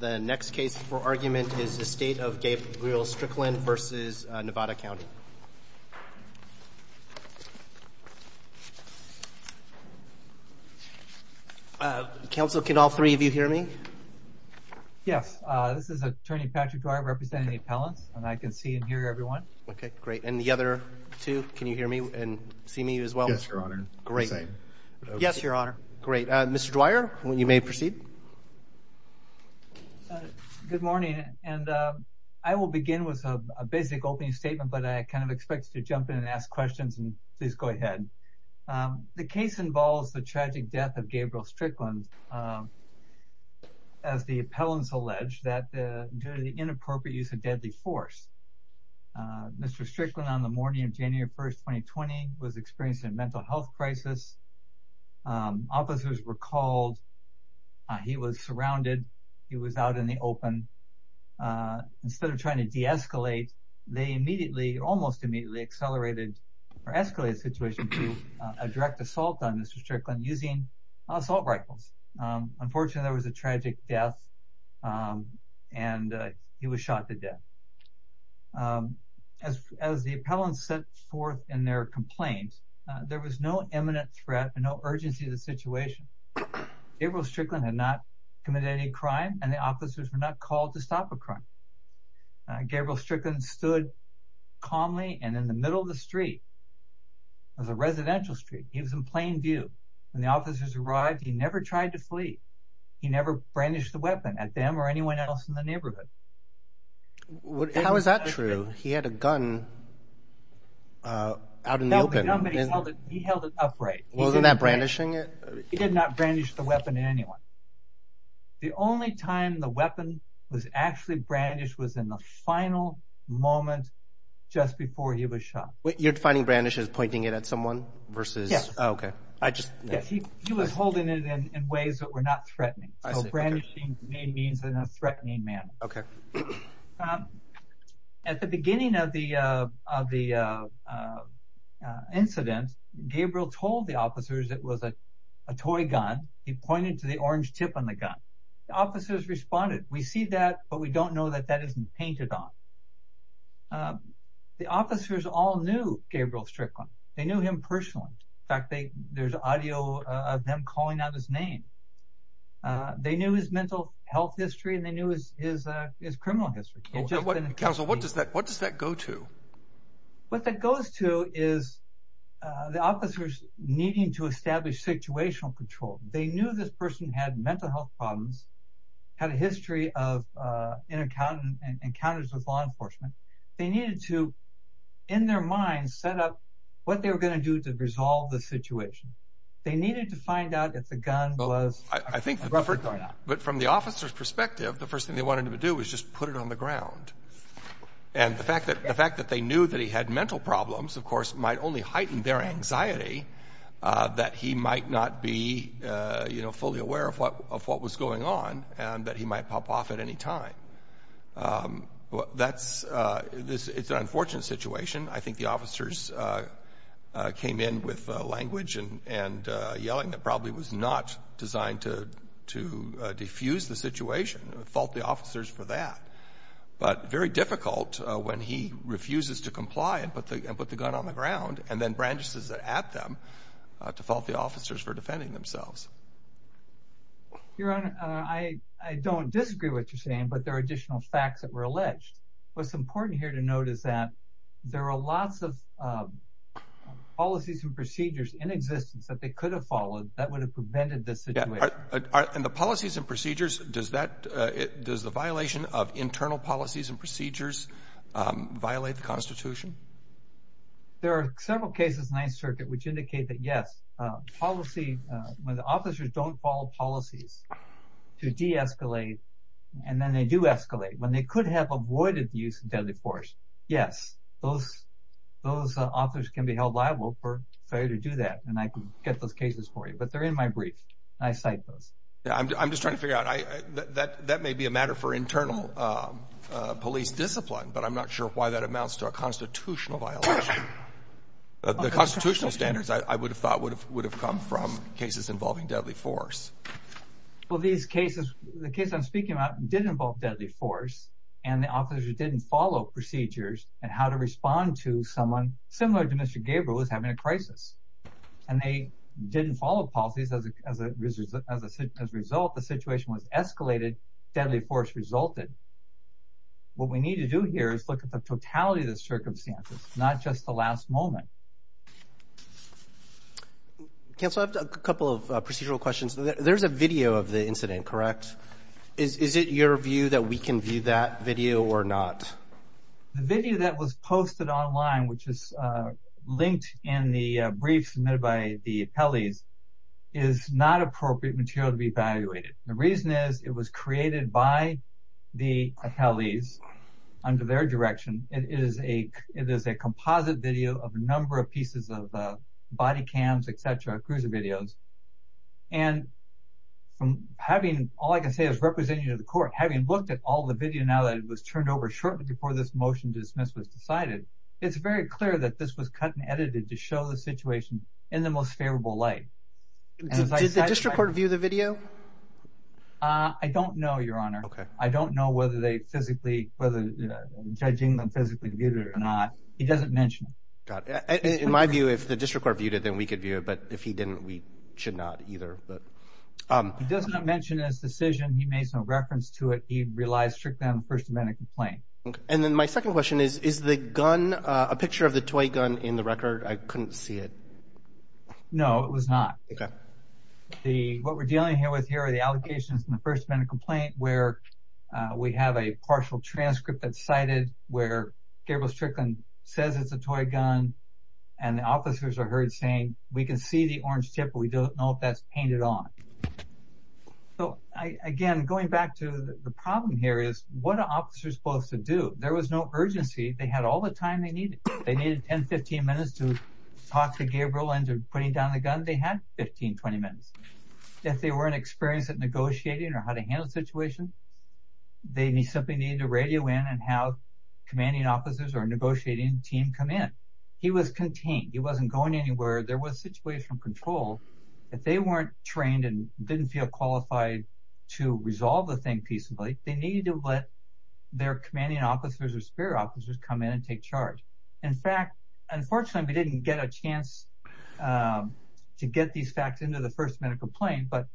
The next case for argument is the State of Gabriel Strickland v. Nevada County. Counsel, can all three of you hear me? Yes, this is Attorney Patrick Dwyer representing the appellants, and I can see and hear everyone. Okay, great. And the other two, can you hear me and see me as well? Yes, Your Honor. Great. Yes, Your Honor. Great. Mr. Proceed. Good morning, and I will begin with a basic opening statement, but I kind of expect to jump in and ask questions, and please go ahead. The case involves the tragic death of Gabriel Strickland, as the appellants allege, that due to the inappropriate use of deadly force. Mr. Strickland, on the morning of January 1, 2020, was experiencing a mental health crisis. Officers were called. He was surrounded. He was out in the open. Instead of trying to de-escalate, they immediately, almost immediately, accelerated or escalated the situation to a direct assault on Mr. Strickland using assault rifles. Unfortunately, there was a tragic death, and he was shot to death. As the appellants set forth in their complaints, there was no imminent threat and no urgency to the situation. Gabriel Strickland had not committed any crime, and the officers were not called to stop a crime. Gabriel Strickland stood calmly and in the middle of the street. It was a residential street. He was in plain view. When the officers arrived, he never tried to flee. He never brandished the weapon at them or anyone else in the neighborhood. How is that true? He had a gun out in the open. He held it upright. Wasn't that brandishing it? He did not brandish the weapon at anyone. The only time the weapon was actually brandished was in the final moment just before he was shot. You're defining brandish as pointing it at someone versus... Yes. Oh, okay. He was holding it in ways that were not threatening, so brandishing may mean in a threatening manner. Okay. At the beginning of the incident, Gabriel told the officers it was a toy gun. He pointed to the orange tip on the gun. The officers responded, we see that, but we don't know that that isn't painted on. The officers all knew Gabriel Strickland. They knew him personally. In fact, there's audio of them calling out his name. They knew his mental health history, and they knew his criminal history. Counsel, what does that go to? What that goes to is the officers needing to establish situational control. They knew this person had mental health problems, had a history of encounters with law enforcement. They needed to, in their minds, set up what they were going to do to resolve the situation. They needed to find out if the gun was... I think, but from the officer's perspective, the first thing they wanted to do was just put it on the ground. The fact that they knew that he had mental problems, of course, might only heighten their anxiety that he might not be fully aware of what was going on and that he might pop off at any time. It's an unfortunate situation. I think the officers came in with language and yelling that probably was not designed to defuse the situation, fault the officers for that, but very difficult when he refuses to comply and put the gun on the ground, and then branches it at them to fault the officers for defending themselves. Your Honor, I don't disagree with what you're saying, but there are additional facts that were alleged. What's important here to note is that there are lots of policies and procedures in existence that they could have followed that would have prevented this situation. And the policies and procedures, does the violation of internal policies and procedures violate the Constitution? There are several cases in the Ninth Circuit which indicate that, yes, policy, when the officers don't follow policies to de-escalate, and then they do escalate, when they could have avoided the use of deadly force, yes, those officers can be held liable for failure to do that. And I can get those cases for you, but they're in my brief. I cite those. I'm just trying to figure out, that may be a matter for internal police discipline, but I'm not sure why that amounts to a constitutional violation. The constitutional standards, I would have thought, would have come from cases involving deadly force. Well, these cases, the case I'm speaking about, did involve deadly force, and the officers who didn't follow procedures and how to respond to someone similar to Mr. Gabriel was having a crisis. And they didn't follow policies. As a result, the situation was escalated, deadly force resulted. What we need to do here is look at the totality of the circumstances, not just the last moment. Counsel, I have a couple of procedural questions. There's a video of the incident, correct? Is it your view that we can view that video or not? The video that was posted online, which is linked in the brief submitted by the appellees, is not appropriate material to be evaluated. The reason is, it was created by the appellees under their direction. It is a composite video of a number of pieces of body cams, et cetera, cruiser videos. And from having, all I can say as representative of the court, having looked at all the video now that it was turned over shortly before this motion to dismiss was decided, it's very clear that this was cut and edited to show the situation in the most favorable light. Did the district court view the video? I don't know, Your Honor. I don't know whether they physically, whether judging them physically viewed it or not. He doesn't mention it. In my view, if the district court viewed it, then we could view it. But if he didn't, we should not either. But he does not mention his decision. He made some reference to it. He relies strictly on the First Amendment complaint. And then my second question is, is the gun, a picture of the toy gun in the record? I couldn't see it. No, it was not. Okay. What we're dealing with here are the allegations from the First Amendment complaint where we have a partial transcript that's cited where Gabriel Strickland says it's a toy gun and the officers are heard saying, we can see the orange tip, but we don't know if that's painted on. So again, going back to the problem here is, what are officers supposed to do? There was no urgency. They had all the time they needed. They needed 10, 15 minutes to talk to Gabriel and to putting down the gun. They had 15, 20 minutes. If they weren't experienced at negotiating or how to handle the situation, they simply needed to radio in and have commanding officers or negotiating team come in. He was contained. He wasn't going anywhere. There was situational control. If they weren't trained and didn't feel qualified to resolve the thing peaceably, they needed to let their commanding officers or spear officers come in and take charge. In fact, unfortunately, we didn't get a chance to get these facts into the First Amendment complaint, but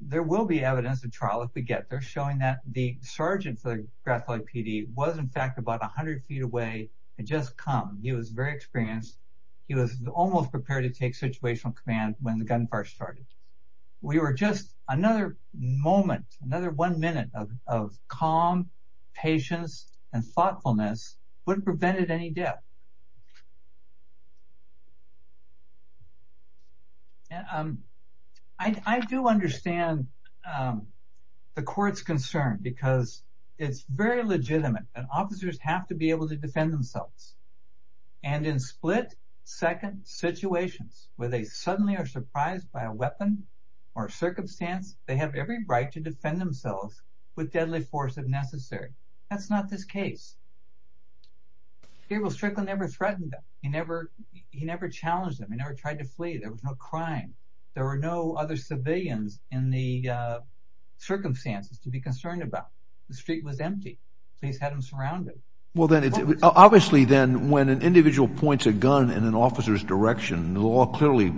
there will be evidence of trial if we get there showing that the sergeant for the Grand Valley PD was in fact about 100 feet away and just come. He was very experienced. He was almost prepared to take situational command when gunfire started. Another moment, another one minute of calm, patience, and thoughtfulness wouldn't prevent any death. I do understand the court's concern because it's very legitimate. Officers have to be able to defend themselves. In split-second situations where they suddenly are surprised by a weapon or circumstance, they have every right to defend themselves with deadly force if necessary. That's not this case. Gabriel Strickland never threatened them. He never challenged them. He never tried to flee. There was no crime. There were no other civilians in the circumstances to be concerned about. The street was empty, so he's had them surrounded. Well, obviously then, when an individual points a gun in an officer's direction, the law clearly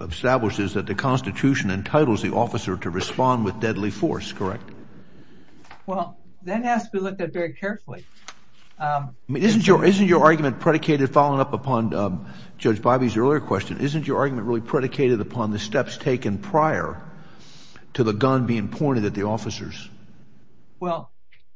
establishes that the Constitution entitles the officer to respond with deadly force, correct? Well, that has to be looked at very carefully. Isn't your argument predicated, following up upon Judge Bobby's earlier question, isn't your argument really predicated upon the steps taken prior to the gun being pointed at officers? Well,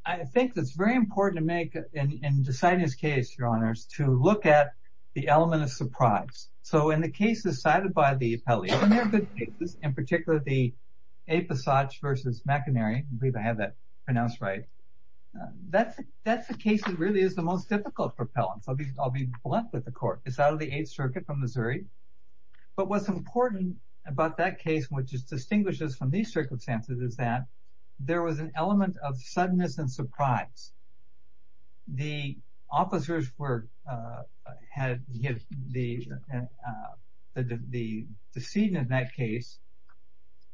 I think it's very important to make, in deciding this case, your honors, to look at the element of surprise. So, in the cases cited by the appellate, and they're good cases, in particular the A. Passage v. McEnary, I believe I have that pronounced right, that's the case that really is the most difficult for appellants. I'll be blunt with the court. It's out of the Eighth Circuit from Missouri, but what's important about that case, which distinguishes from these circumstances, is that there was an element of suddenness and surprise. The officers were, had, the decedent in that case,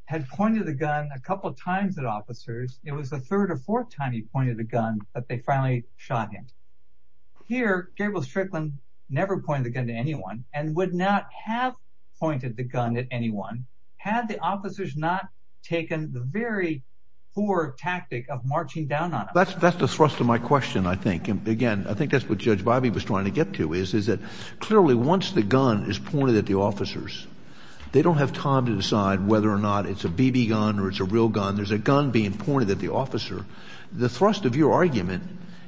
had pointed the gun a couple times at officers. It was the third or fourth time he pointed the gun that they finally shot him. Here, Gabriel Strickland never pointed the gun to anyone, and would not have pointed the gun at anyone, had the officers not taken the very poor tactic of marching down on him. That's the thrust of my question, I think. Again, I think that's what Judge Bobby was trying to get to, is that clearly, once the gun is pointed at the officers, they don't have time to decide whether or not it's a BB gun or it's a real gun. There's a gun being pointed at the officer. The thrust of your argument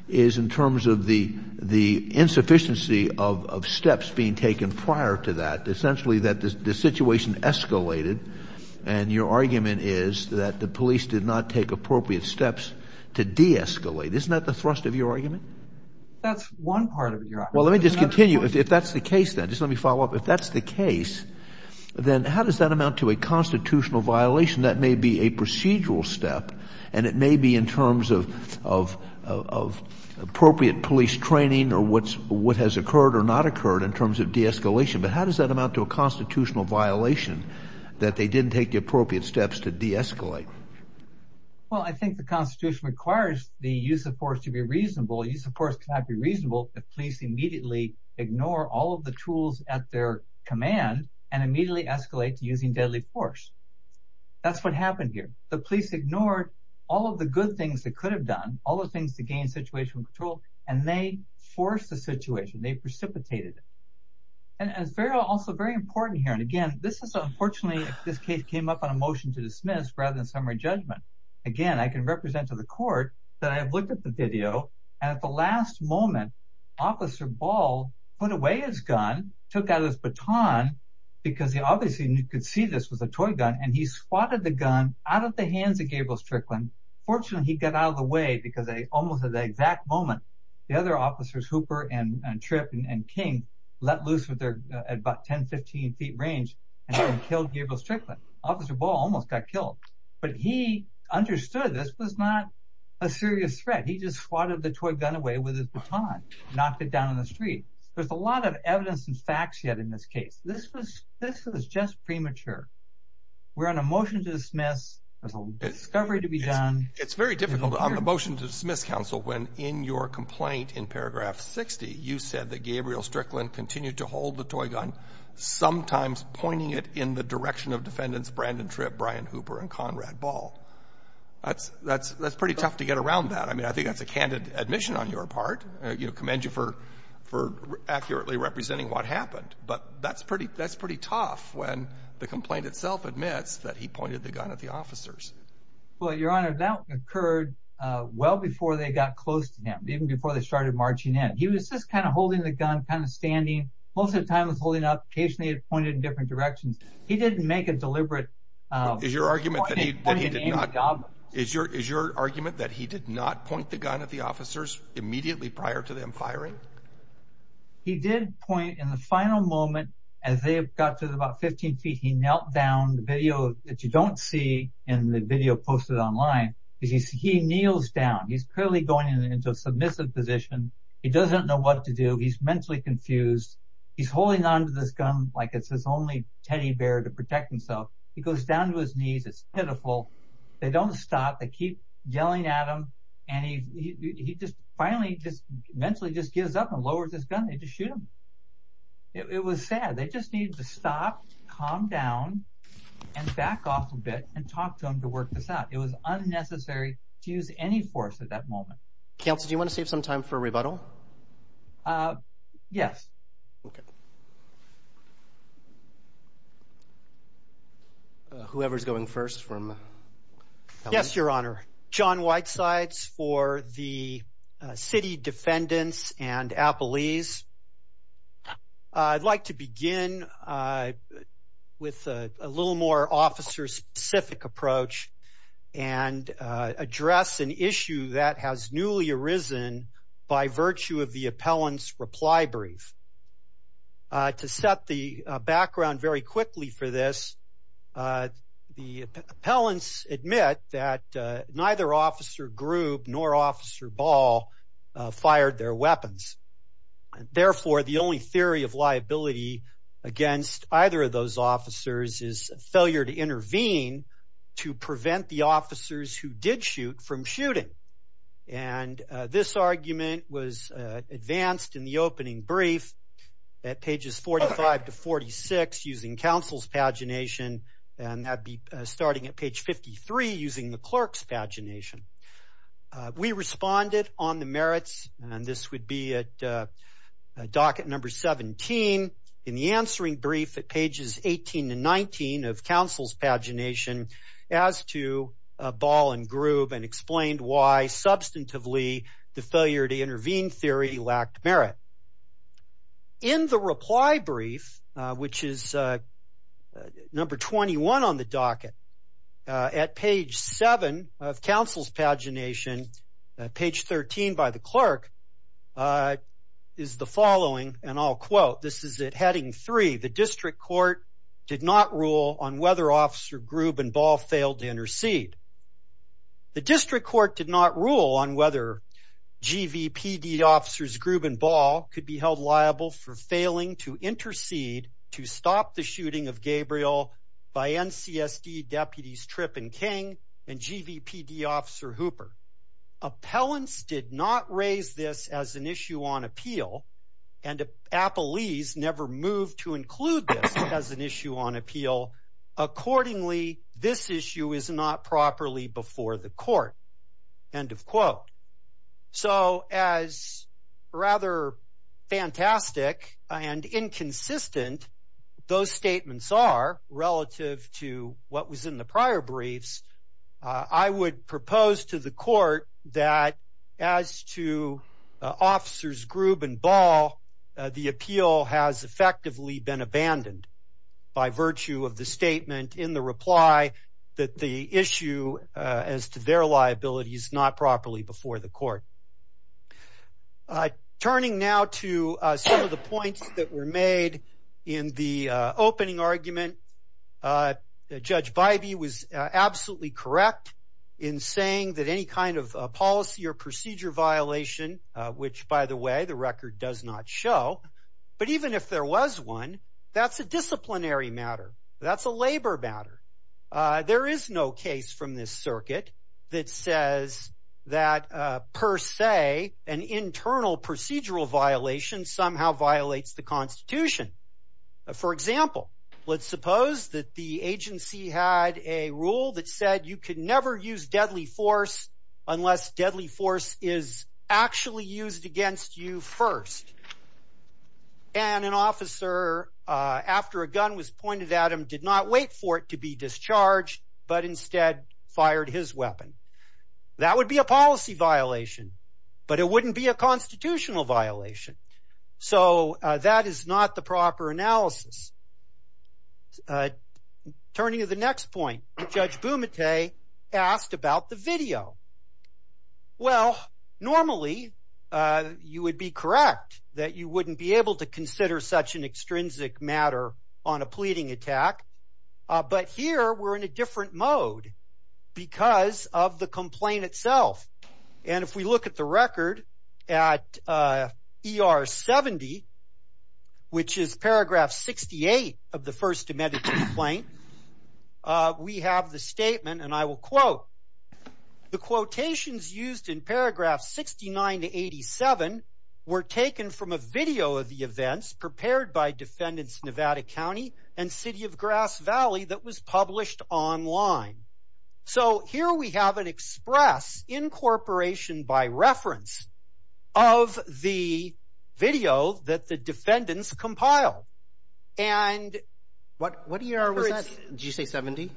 is in terms of the insufficiency of steps being taken prior to that. Essentially, that the situation escalated, and your argument is that the police did not take appropriate steps to de-escalate. Isn't that the thrust of your argument? That's one part of your argument. Well, let me just continue. If that's the case, then, just let me follow up. If that's the case, then how does that amount to a constitutional violation? That may be a procedural step, and it may be in terms of appropriate police training or what has occurred or not occurred in terms of de-escalation, but how does that amount to a constitutional violation that they didn't take the appropriate steps to de-escalate? Well, I think the Constitution requires the use of force to be reasonable. Use of force cannot be reasonable if police immediately ignore all of the tools at their command and immediately escalate to using deadly force. That's what happened here. The police ignored all of the good things they could have done, all the things to gain situational control, and they forced the situation. They precipitated it. It's also very important here, and again, this is unfortunately if this case came up on a motion to dismiss rather than summary judgment. Again, I can represent to the court that I have looked at the video, and at the last moment, Officer Ball put away his gun, took out his baton because he obviously, and you could see this, was a toy gun, and he swatted the gun out of the hands of Gabriel Strickland. Fortunately, he got out of the way because almost at the exact moment, the other officers, Hooper and Tripp and King, let loose at about 10, 15 feet range and killed Gabriel Strickland. Officer Ball almost got killed, but he understood this was not a serious threat. He just swatted the toy gun away with his baton, knocked it down in the street. There's a lot of evidence and facts yet in this case. This was just premature. We're on a motion to dismiss. There's a discovery to be done. It's very difficult on the motion to dismiss, counsel, when in your complaint in Paragraph 60, you said that Gabriel Strickland continued to hold the toy gun, sometimes pointing it in the direction of Defendants Brandon Tripp, Brian Hooper, and Conrad Ball. That's pretty tough to get around that. I mean, I think that's a candid admission on your part. I commend you for accurately representing what happened, but that's pretty tough when the complaint itself admits that he pointed the gun at the officers. Well, Your Honor, that occurred well before they got close to him, even before they started marching in. He was just kind of holding the gun, kind of standing. Most of the time, he was holding it up. Occasionally, he'd point it in different directions. He didn't make a deliberate point. Is your argument that he did not point the gun at the officers immediately prior to them firing? He did point in the final moment. As they got to about 15 feet, he knelt down. The video posted online, he kneels down. He's clearly going into a submissive position. He doesn't know what to do. He's mentally confused. He's holding on to this gun like it's his only teddy bear to protect himself. He goes down to his knees. It's pitiful. They don't stop. They keep yelling at him. Finally, he just mentally gives up and lowers his gun. They just shoot him. It was sad. They just needed to stop, calm down, and back off a bit and talk to him to work this out. It was unnecessary to use any force at that moment. Counsel, do you want to save some time for a rebuttal? Yes. Okay. Whoever's going first from... Yes, Your Honor. John Whitesides for the city defendants and I with a little more officer-specific approach and address an issue that has newly arisen by virtue of the appellant's reply brief. To set the background very quickly for this, the appellants admit that neither Officer Grube nor Officer Ball fired their weapons. Therefore, the only theory of liability against either of those officers is failure to intervene to prevent the officers who did shoot from shooting. This argument was advanced in the opening brief at pages 45 to 46 using counsel's pagination and that'd be starting at page 53 using the clerk's pagination. We responded on the merits and this would be at docket number 17 in the answering brief at pages 18 to 19 of counsel's pagination as to Ball and Grube and explained why substantively the failure to intervene theory lacked merit. In the reply brief, which is number 21 on the docket, at page 7 of counsel's pagination, page 13 by the clerk, is the following and I'll quote. This is at heading 3. The district court did not rule on whether Officer Grube and Ball failed to intercede. The district court did not rule on whether GVPD officers Grube and Ball could be held liable for failing to intercede to stop the shooting of Gabriel by NCSD deputies Tripp and King and GVPD officer Hooper. Appellants did not raise this as an issue on appeal and appellees never moved to include this as an issue on appeal. Accordingly, this issue is not properly before the court. End of quote. So as rather fantastic and inconsistent those statements are relative to what was in the prior briefs, I would propose to the court that as to Officers Grube and Ball, the appeal has effectively been a statement in the reply that the issue as to their liability is not properly before the court. Turning now to some of the points that were made in the opening argument, Judge Bybee was absolutely correct in saying that any kind of policy or procedure violation, which by the way the record does not show, but even if there was one, that's a disciplinary matter. That's a labor matter. There is no case from this circuit that says that per se an internal procedural violation somehow violates the constitution. For example, let's suppose that the agency had a rule that said you could never use deadly force unless deadly force is actually used against you first. And an officer after a gun was pointed at him did not wait for it to be discharged, but instead fired his weapon. That would be a policy violation, but it wouldn't be a constitutional violation. So that is not the proper analysis. Turning to the next point, Judge Bumate asked about the video. Well, normally you would be correct that you wouldn't be able to consider such an extrinsic matter on a pleading attack, but here we're in a different mode because of the complaint itself. And if we look at the record at ER 70, which is paragraph 68 of the first amended complaint, we have the statement, and I will quote, the quotations used in paragraph 69 to 87 were taken from a video of the events prepared by defendants Nevada County and City of Grass Valley that was published online. So here we have an incorporation by reference of the video that the defendants compile. And what ER was that? Did you say 70?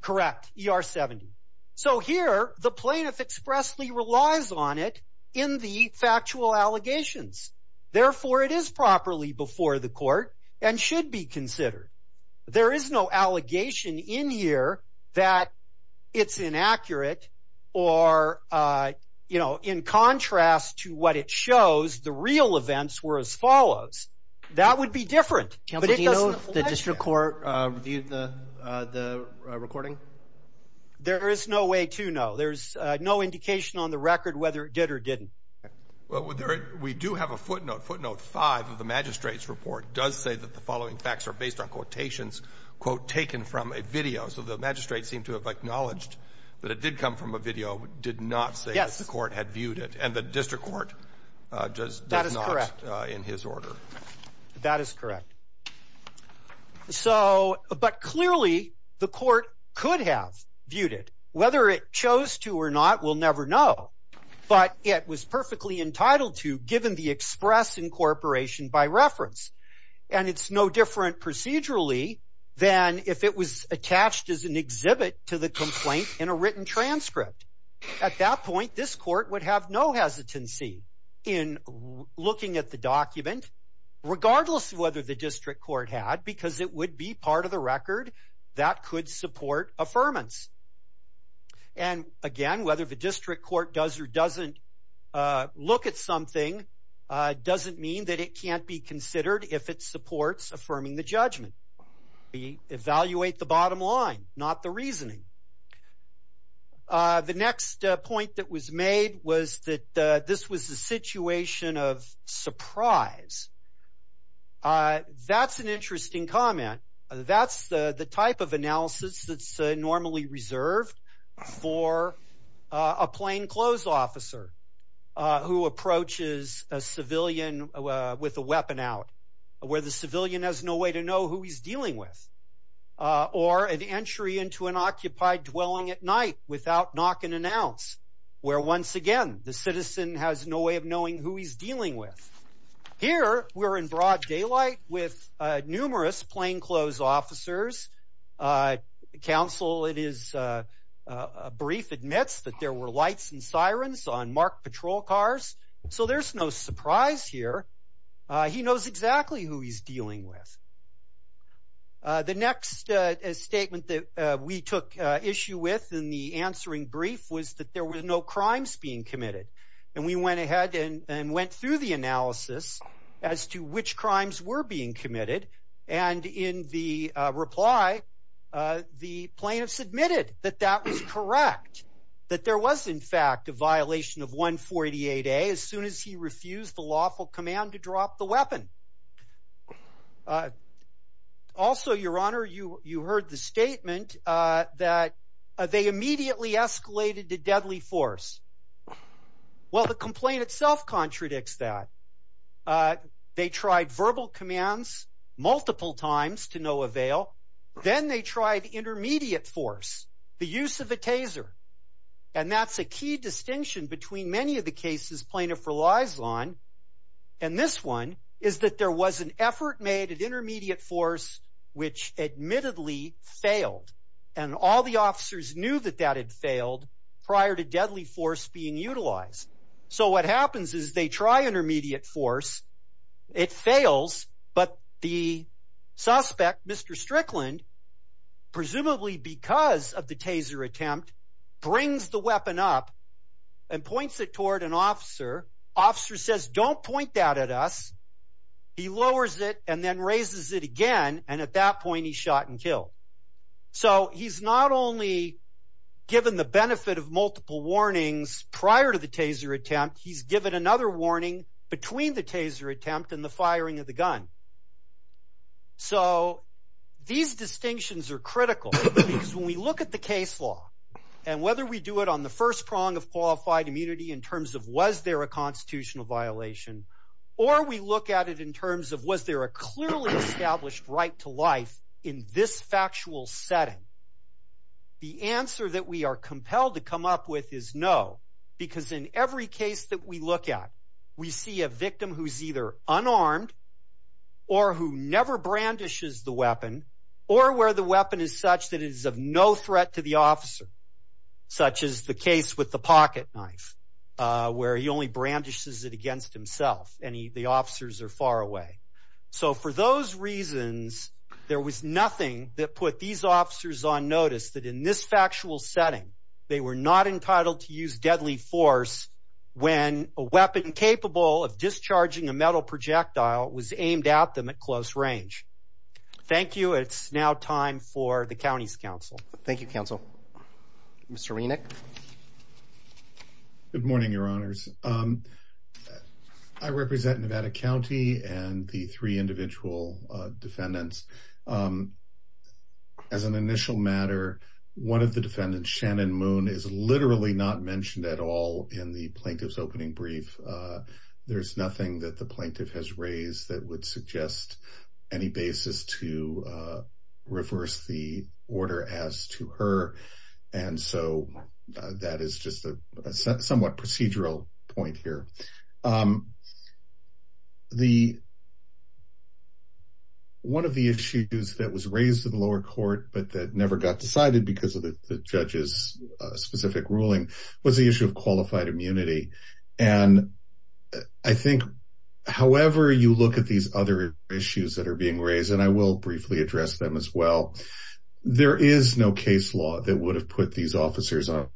Correct. ER 70. So here the plaintiff expressly relies on it in the factual allegations. Therefore, it is properly before the court and should be considered. There is no allegation in here that it's inaccurate or, you know, in contrast to what it shows, the real events were as follows. That would be different. Do you know if the district court reviewed the recording? There is no way to know. There's no indication on the record whether it did or didn't. Well, we do have a footnote. Footnote five of the magistrate's report does say the following facts are based on quotations, quote, taken from a video. So the magistrate seemed to have acknowledged that it did come from a video, did not say the court had viewed it. And the district court does not in his order. That is correct. So but clearly the court could have viewed it. Whether it chose to or not, we'll never know. But it was perfectly entitled to, given the express incorporation by reference. And it's no different procedurally than if it was attached as an exhibit to the complaint in a written transcript. At that point, this court would have no hesitancy in looking at the document, regardless of whether the district court had, because it would be part of the record that could support affirmance. And again, whether the doesn't mean that it can't be considered if it supports affirming the judgment. We evaluate the bottom line, not the reasoning. The next point that was made was that this was a situation of surprise. That's an interesting comment. That's the type of analysis that's normally reserved for a plainclothes officer who approaches a civilian with a weapon out, where the civilian has no way to know who he's dealing with. Or an entry into an occupied dwelling at night without knock and announce, where once again, the citizen has no way of knowing who he's dealing with. Here, we're in broad daylight with numerous plainclothes officers. A counsel in his brief admits that there were lights and sirens on marked patrol cars. So there's no surprise here. He knows exactly who he's dealing with. The next statement that we took issue with in the answering brief was that there were no crimes being committed. And we went ahead and went through the analysis as to which crimes were being committed. And in the reply, the plaintiff submitted that that was correct. That there was, in fact, a violation of 148A as soon as he refused the lawful command to drop the weapon. Also, Your Honor, you heard the statement that they immediately escalated to deadly force. Well, the complaint itself contradicts that. They tried verbal commands multiple times to no avail. Then they tried intermediate force, the use of a taser. And that's a key distinction between many of the cases plaintiff relies on. And this one is that there was an effort made at intermediate force which admittedly failed. And all the officers knew that that had failed prior to deadly force being utilized. So what happens is they try intermediate force. It fails. But the suspect, Mr. Strickland, presumably because of the taser attempt, brings the weapon up and points it toward an officer. Officer says, don't point that at us. He lowers it and then raises it again. And at that point, he's shot and killed. So he's not only given the benefit of multiple warnings prior to the taser attempt, he's given another warning between the taser attempt and the firing of the gun. So these distinctions are critical because when we look at the case law and whether we do it on the first prong of qualified immunity in terms of was there a constitutional violation, or we look at it in terms of was there a clearly established right to life in this factual setting, the answer that we are compelled to come up with is no. Because in every case that we look at, we see a victim who's either unarmed or who never brandishes the weapon, or where the weapon is such that it is of no threat to the officer, such as the case with pocket knife, where he only brandishes it against himself and the officers are far away. So for those reasons, there was nothing that put these officers on notice that in this factual setting, they were not entitled to use deadly force when a weapon capable of discharging a metal projectile was aimed at them at close range. Thank you. It's now time for the county's council. Thank you, council. Mr. Renick. Good morning, your honors. I represent Nevada County and the three individual defendants. As an initial matter, one of the defendants, Shannon Moon, is literally not mentioned at all in the plaintiff's opening brief. There's nothing that the plaintiff has raised that would suggest any basis to reverse the order as to her. And so that is just a somewhat procedural point here. One of the issues that was raised in the lower court, but that never got decided because of the judge's specific ruling, was the issue of qualified immunity. And I think, however, you look at these other issues that are being raised, and I will briefly address them as well, there is no case law that would have put these officers on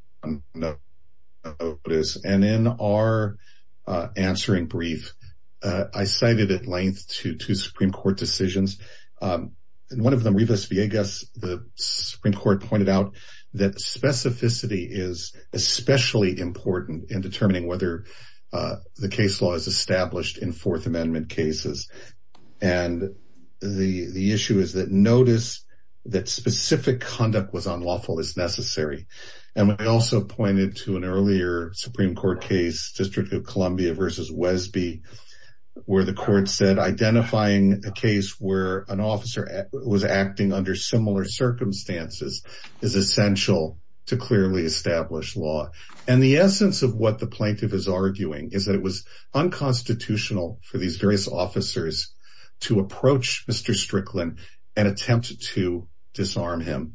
notice. And in our answering brief, I cited at length two Supreme Court decisions. One of them, Rivas-Villegas, the Supreme Court pointed out that specificity is especially important in determining whether the case law is established in Fourth Amendment cases. And the issue is that notice that specific conduct was unlawful is necessary. And I also pointed to an earlier Supreme Court case, District of Columbia versus Wesby, where the court said identifying a case where an officer was acting under similar circumstances is essential to clearly establish law. And the essence of what the plaintiff is saying is that it is unconstitutional for these various officers to approach Mr. Strickland and attempt to disarm him.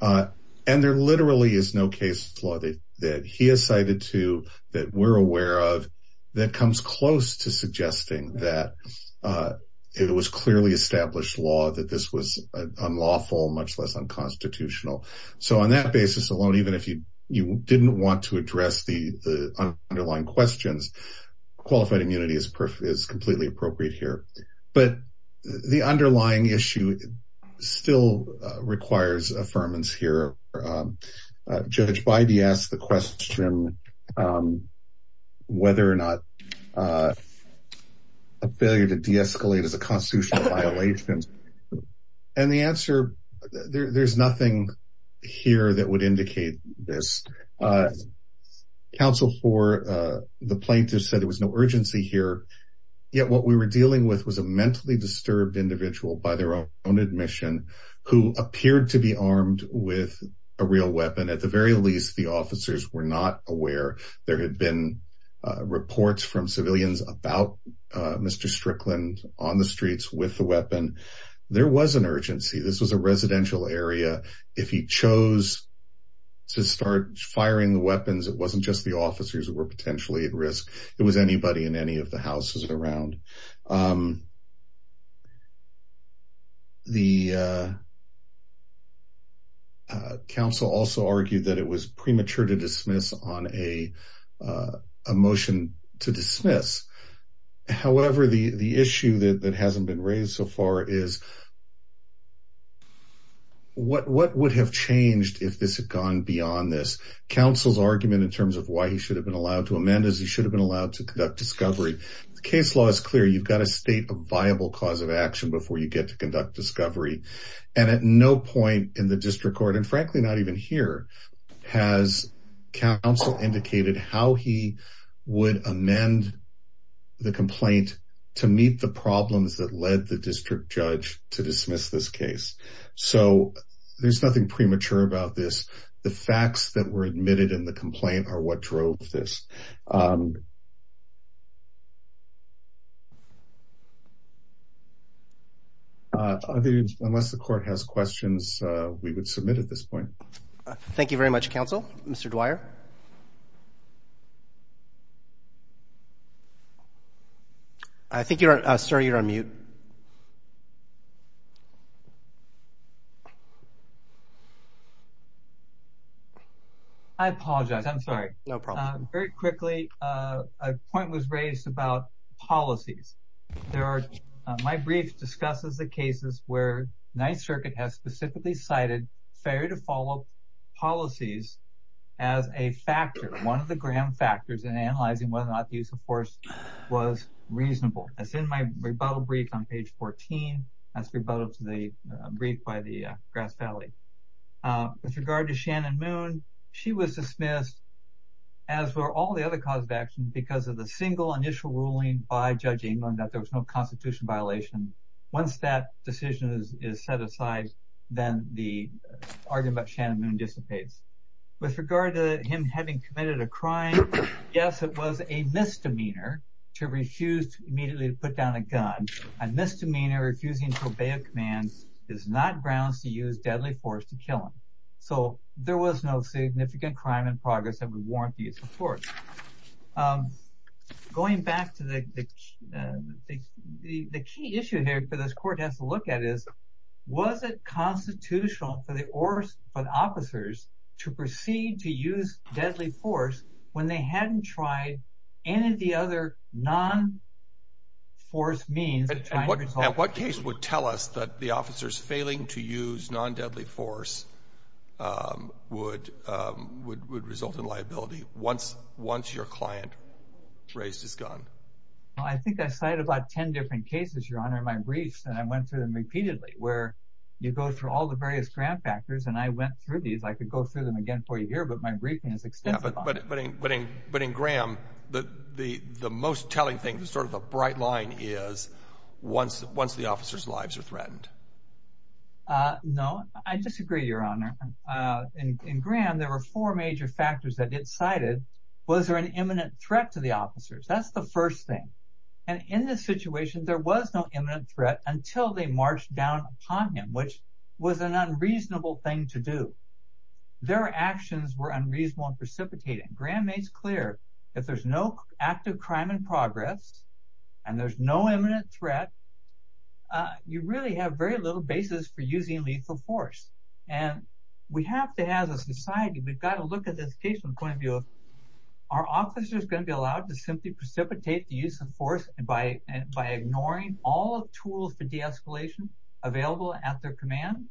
And there literally is no case law that he has cited to, that we're aware of, that comes close to suggesting that it was clearly established law that this was unlawful, much less unconstitutional. So on that basis alone, even if you didn't want to address the underlying questions, qualified immunity is completely appropriate here. But the underlying issue still requires affirmance here. Judge Bidey asked the question whether or not a failure to deescalate is a constitutional violation. And the answer, there's nothing here that would indicate this. Counsel for the plaintiff said there was no urgency here. Yet what we were dealing with was a mentally disturbed individual, by their own admission, who appeared to be armed with a real weapon. At the very least, the officers were not aware. There had been reports from civilians about Mr. Strickland on the streets with the weapon. There was an urgency. This was a residential area. If he chose to start firing the weapons, it wasn't just the officers who were potentially at risk. It was anybody in any of the houses around. The counsel also argued that it was premature to dismiss on a motion to dismiss. However, the issue that hasn't been raised so far is, what would have changed if this had gone beyond this? Counsel's argument in terms of why he should have been allowed to amend is he should have been allowed to conduct discovery. The case law is clear. You've got to state a viable cause of action before you get to conduct discovery. And at no point in the district even here has counsel indicated how he would amend the complaint to meet the problems that led the district judge to dismiss this case. So there's nothing premature about this. The facts that were admitted in the complaint are what drove this. I think unless the court has questions, we would submit at this point. Thank you very much, counsel. Mr. Dwyer. I think you're on, sir, you're on mute. I apologize. I'm sorry. No problem. Very quickly, a point was raised about policies. My brief discusses the cases where Ninth Circuit has specifically cited fair to follow policies as a factor, one of the grand factors in analyzing whether or not the 14. That's rebuttal to the brief by the Grass Valley. With regard to Shannon Moon, she was dismissed as were all the other cause of action because of the single initial ruling by Judge England that there was no constitution violation. Once that decision is set aside, then the argument about Shannon Moon dissipates. With regard to him having committed a crime, yes, it was a misdemeanor to refuse immediately to put down a gun. A misdemeanor refusing to obey a command is not grounds to use deadly force to kill him. So there was no significant crime in progress that would warrant the use of force. Going back to the key issue here for this court has to look at is, was it constitutional for the officers to proceed to use deadly force when they hadn't tried any of the other non-force means? At what case would tell us that the officers failing to use non-deadly force would result in liability once your client raised his gun? I think I cited about 10 different cases, Your Honor, in my briefs and I went through them repeatedly where you go through all the various grand factors and I went through these. I could but in Graham, the most telling thing, the sort of the bright line is once the officer's lives are threatened. No, I disagree, Your Honor. In Graham, there were four major factors that it cited. Was there an imminent threat to the officers? That's the first thing. And in this situation, there was no imminent threat until they marched down upon him, which was an unreasonable thing to do. Their actions were unreasonable and precipitating. Graham makes clear if there's no active crime in progress and there's no imminent threat, you really have very little basis for using lethal force. And we have to, as a society, we've got to look at this case from the point of view of, are officers going to be allowed to simply precipitate the use of force by ignoring all the tools for de-escalation available at their command?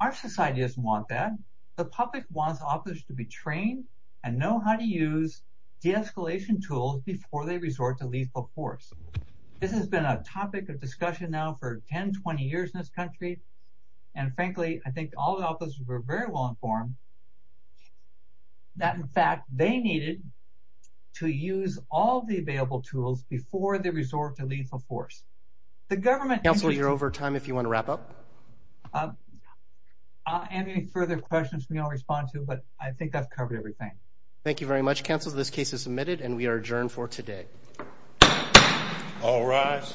Our society doesn't want that. The public wants officers to be trained and know how to use de-escalation tools before they resort to lethal force. This has been a topic of discussion now for 10, 20 years in this country. And frankly, I think all the officers were very well informed that, in fact, they needed to use all the available tools before they resort to lethal force. The government... Counselor, you're over time if you want to wrap up. Any further questions we don't respond to, but I think I've covered everything. Thank you very much, Counselor. This case is submitted and we are adjourned for today. All rise.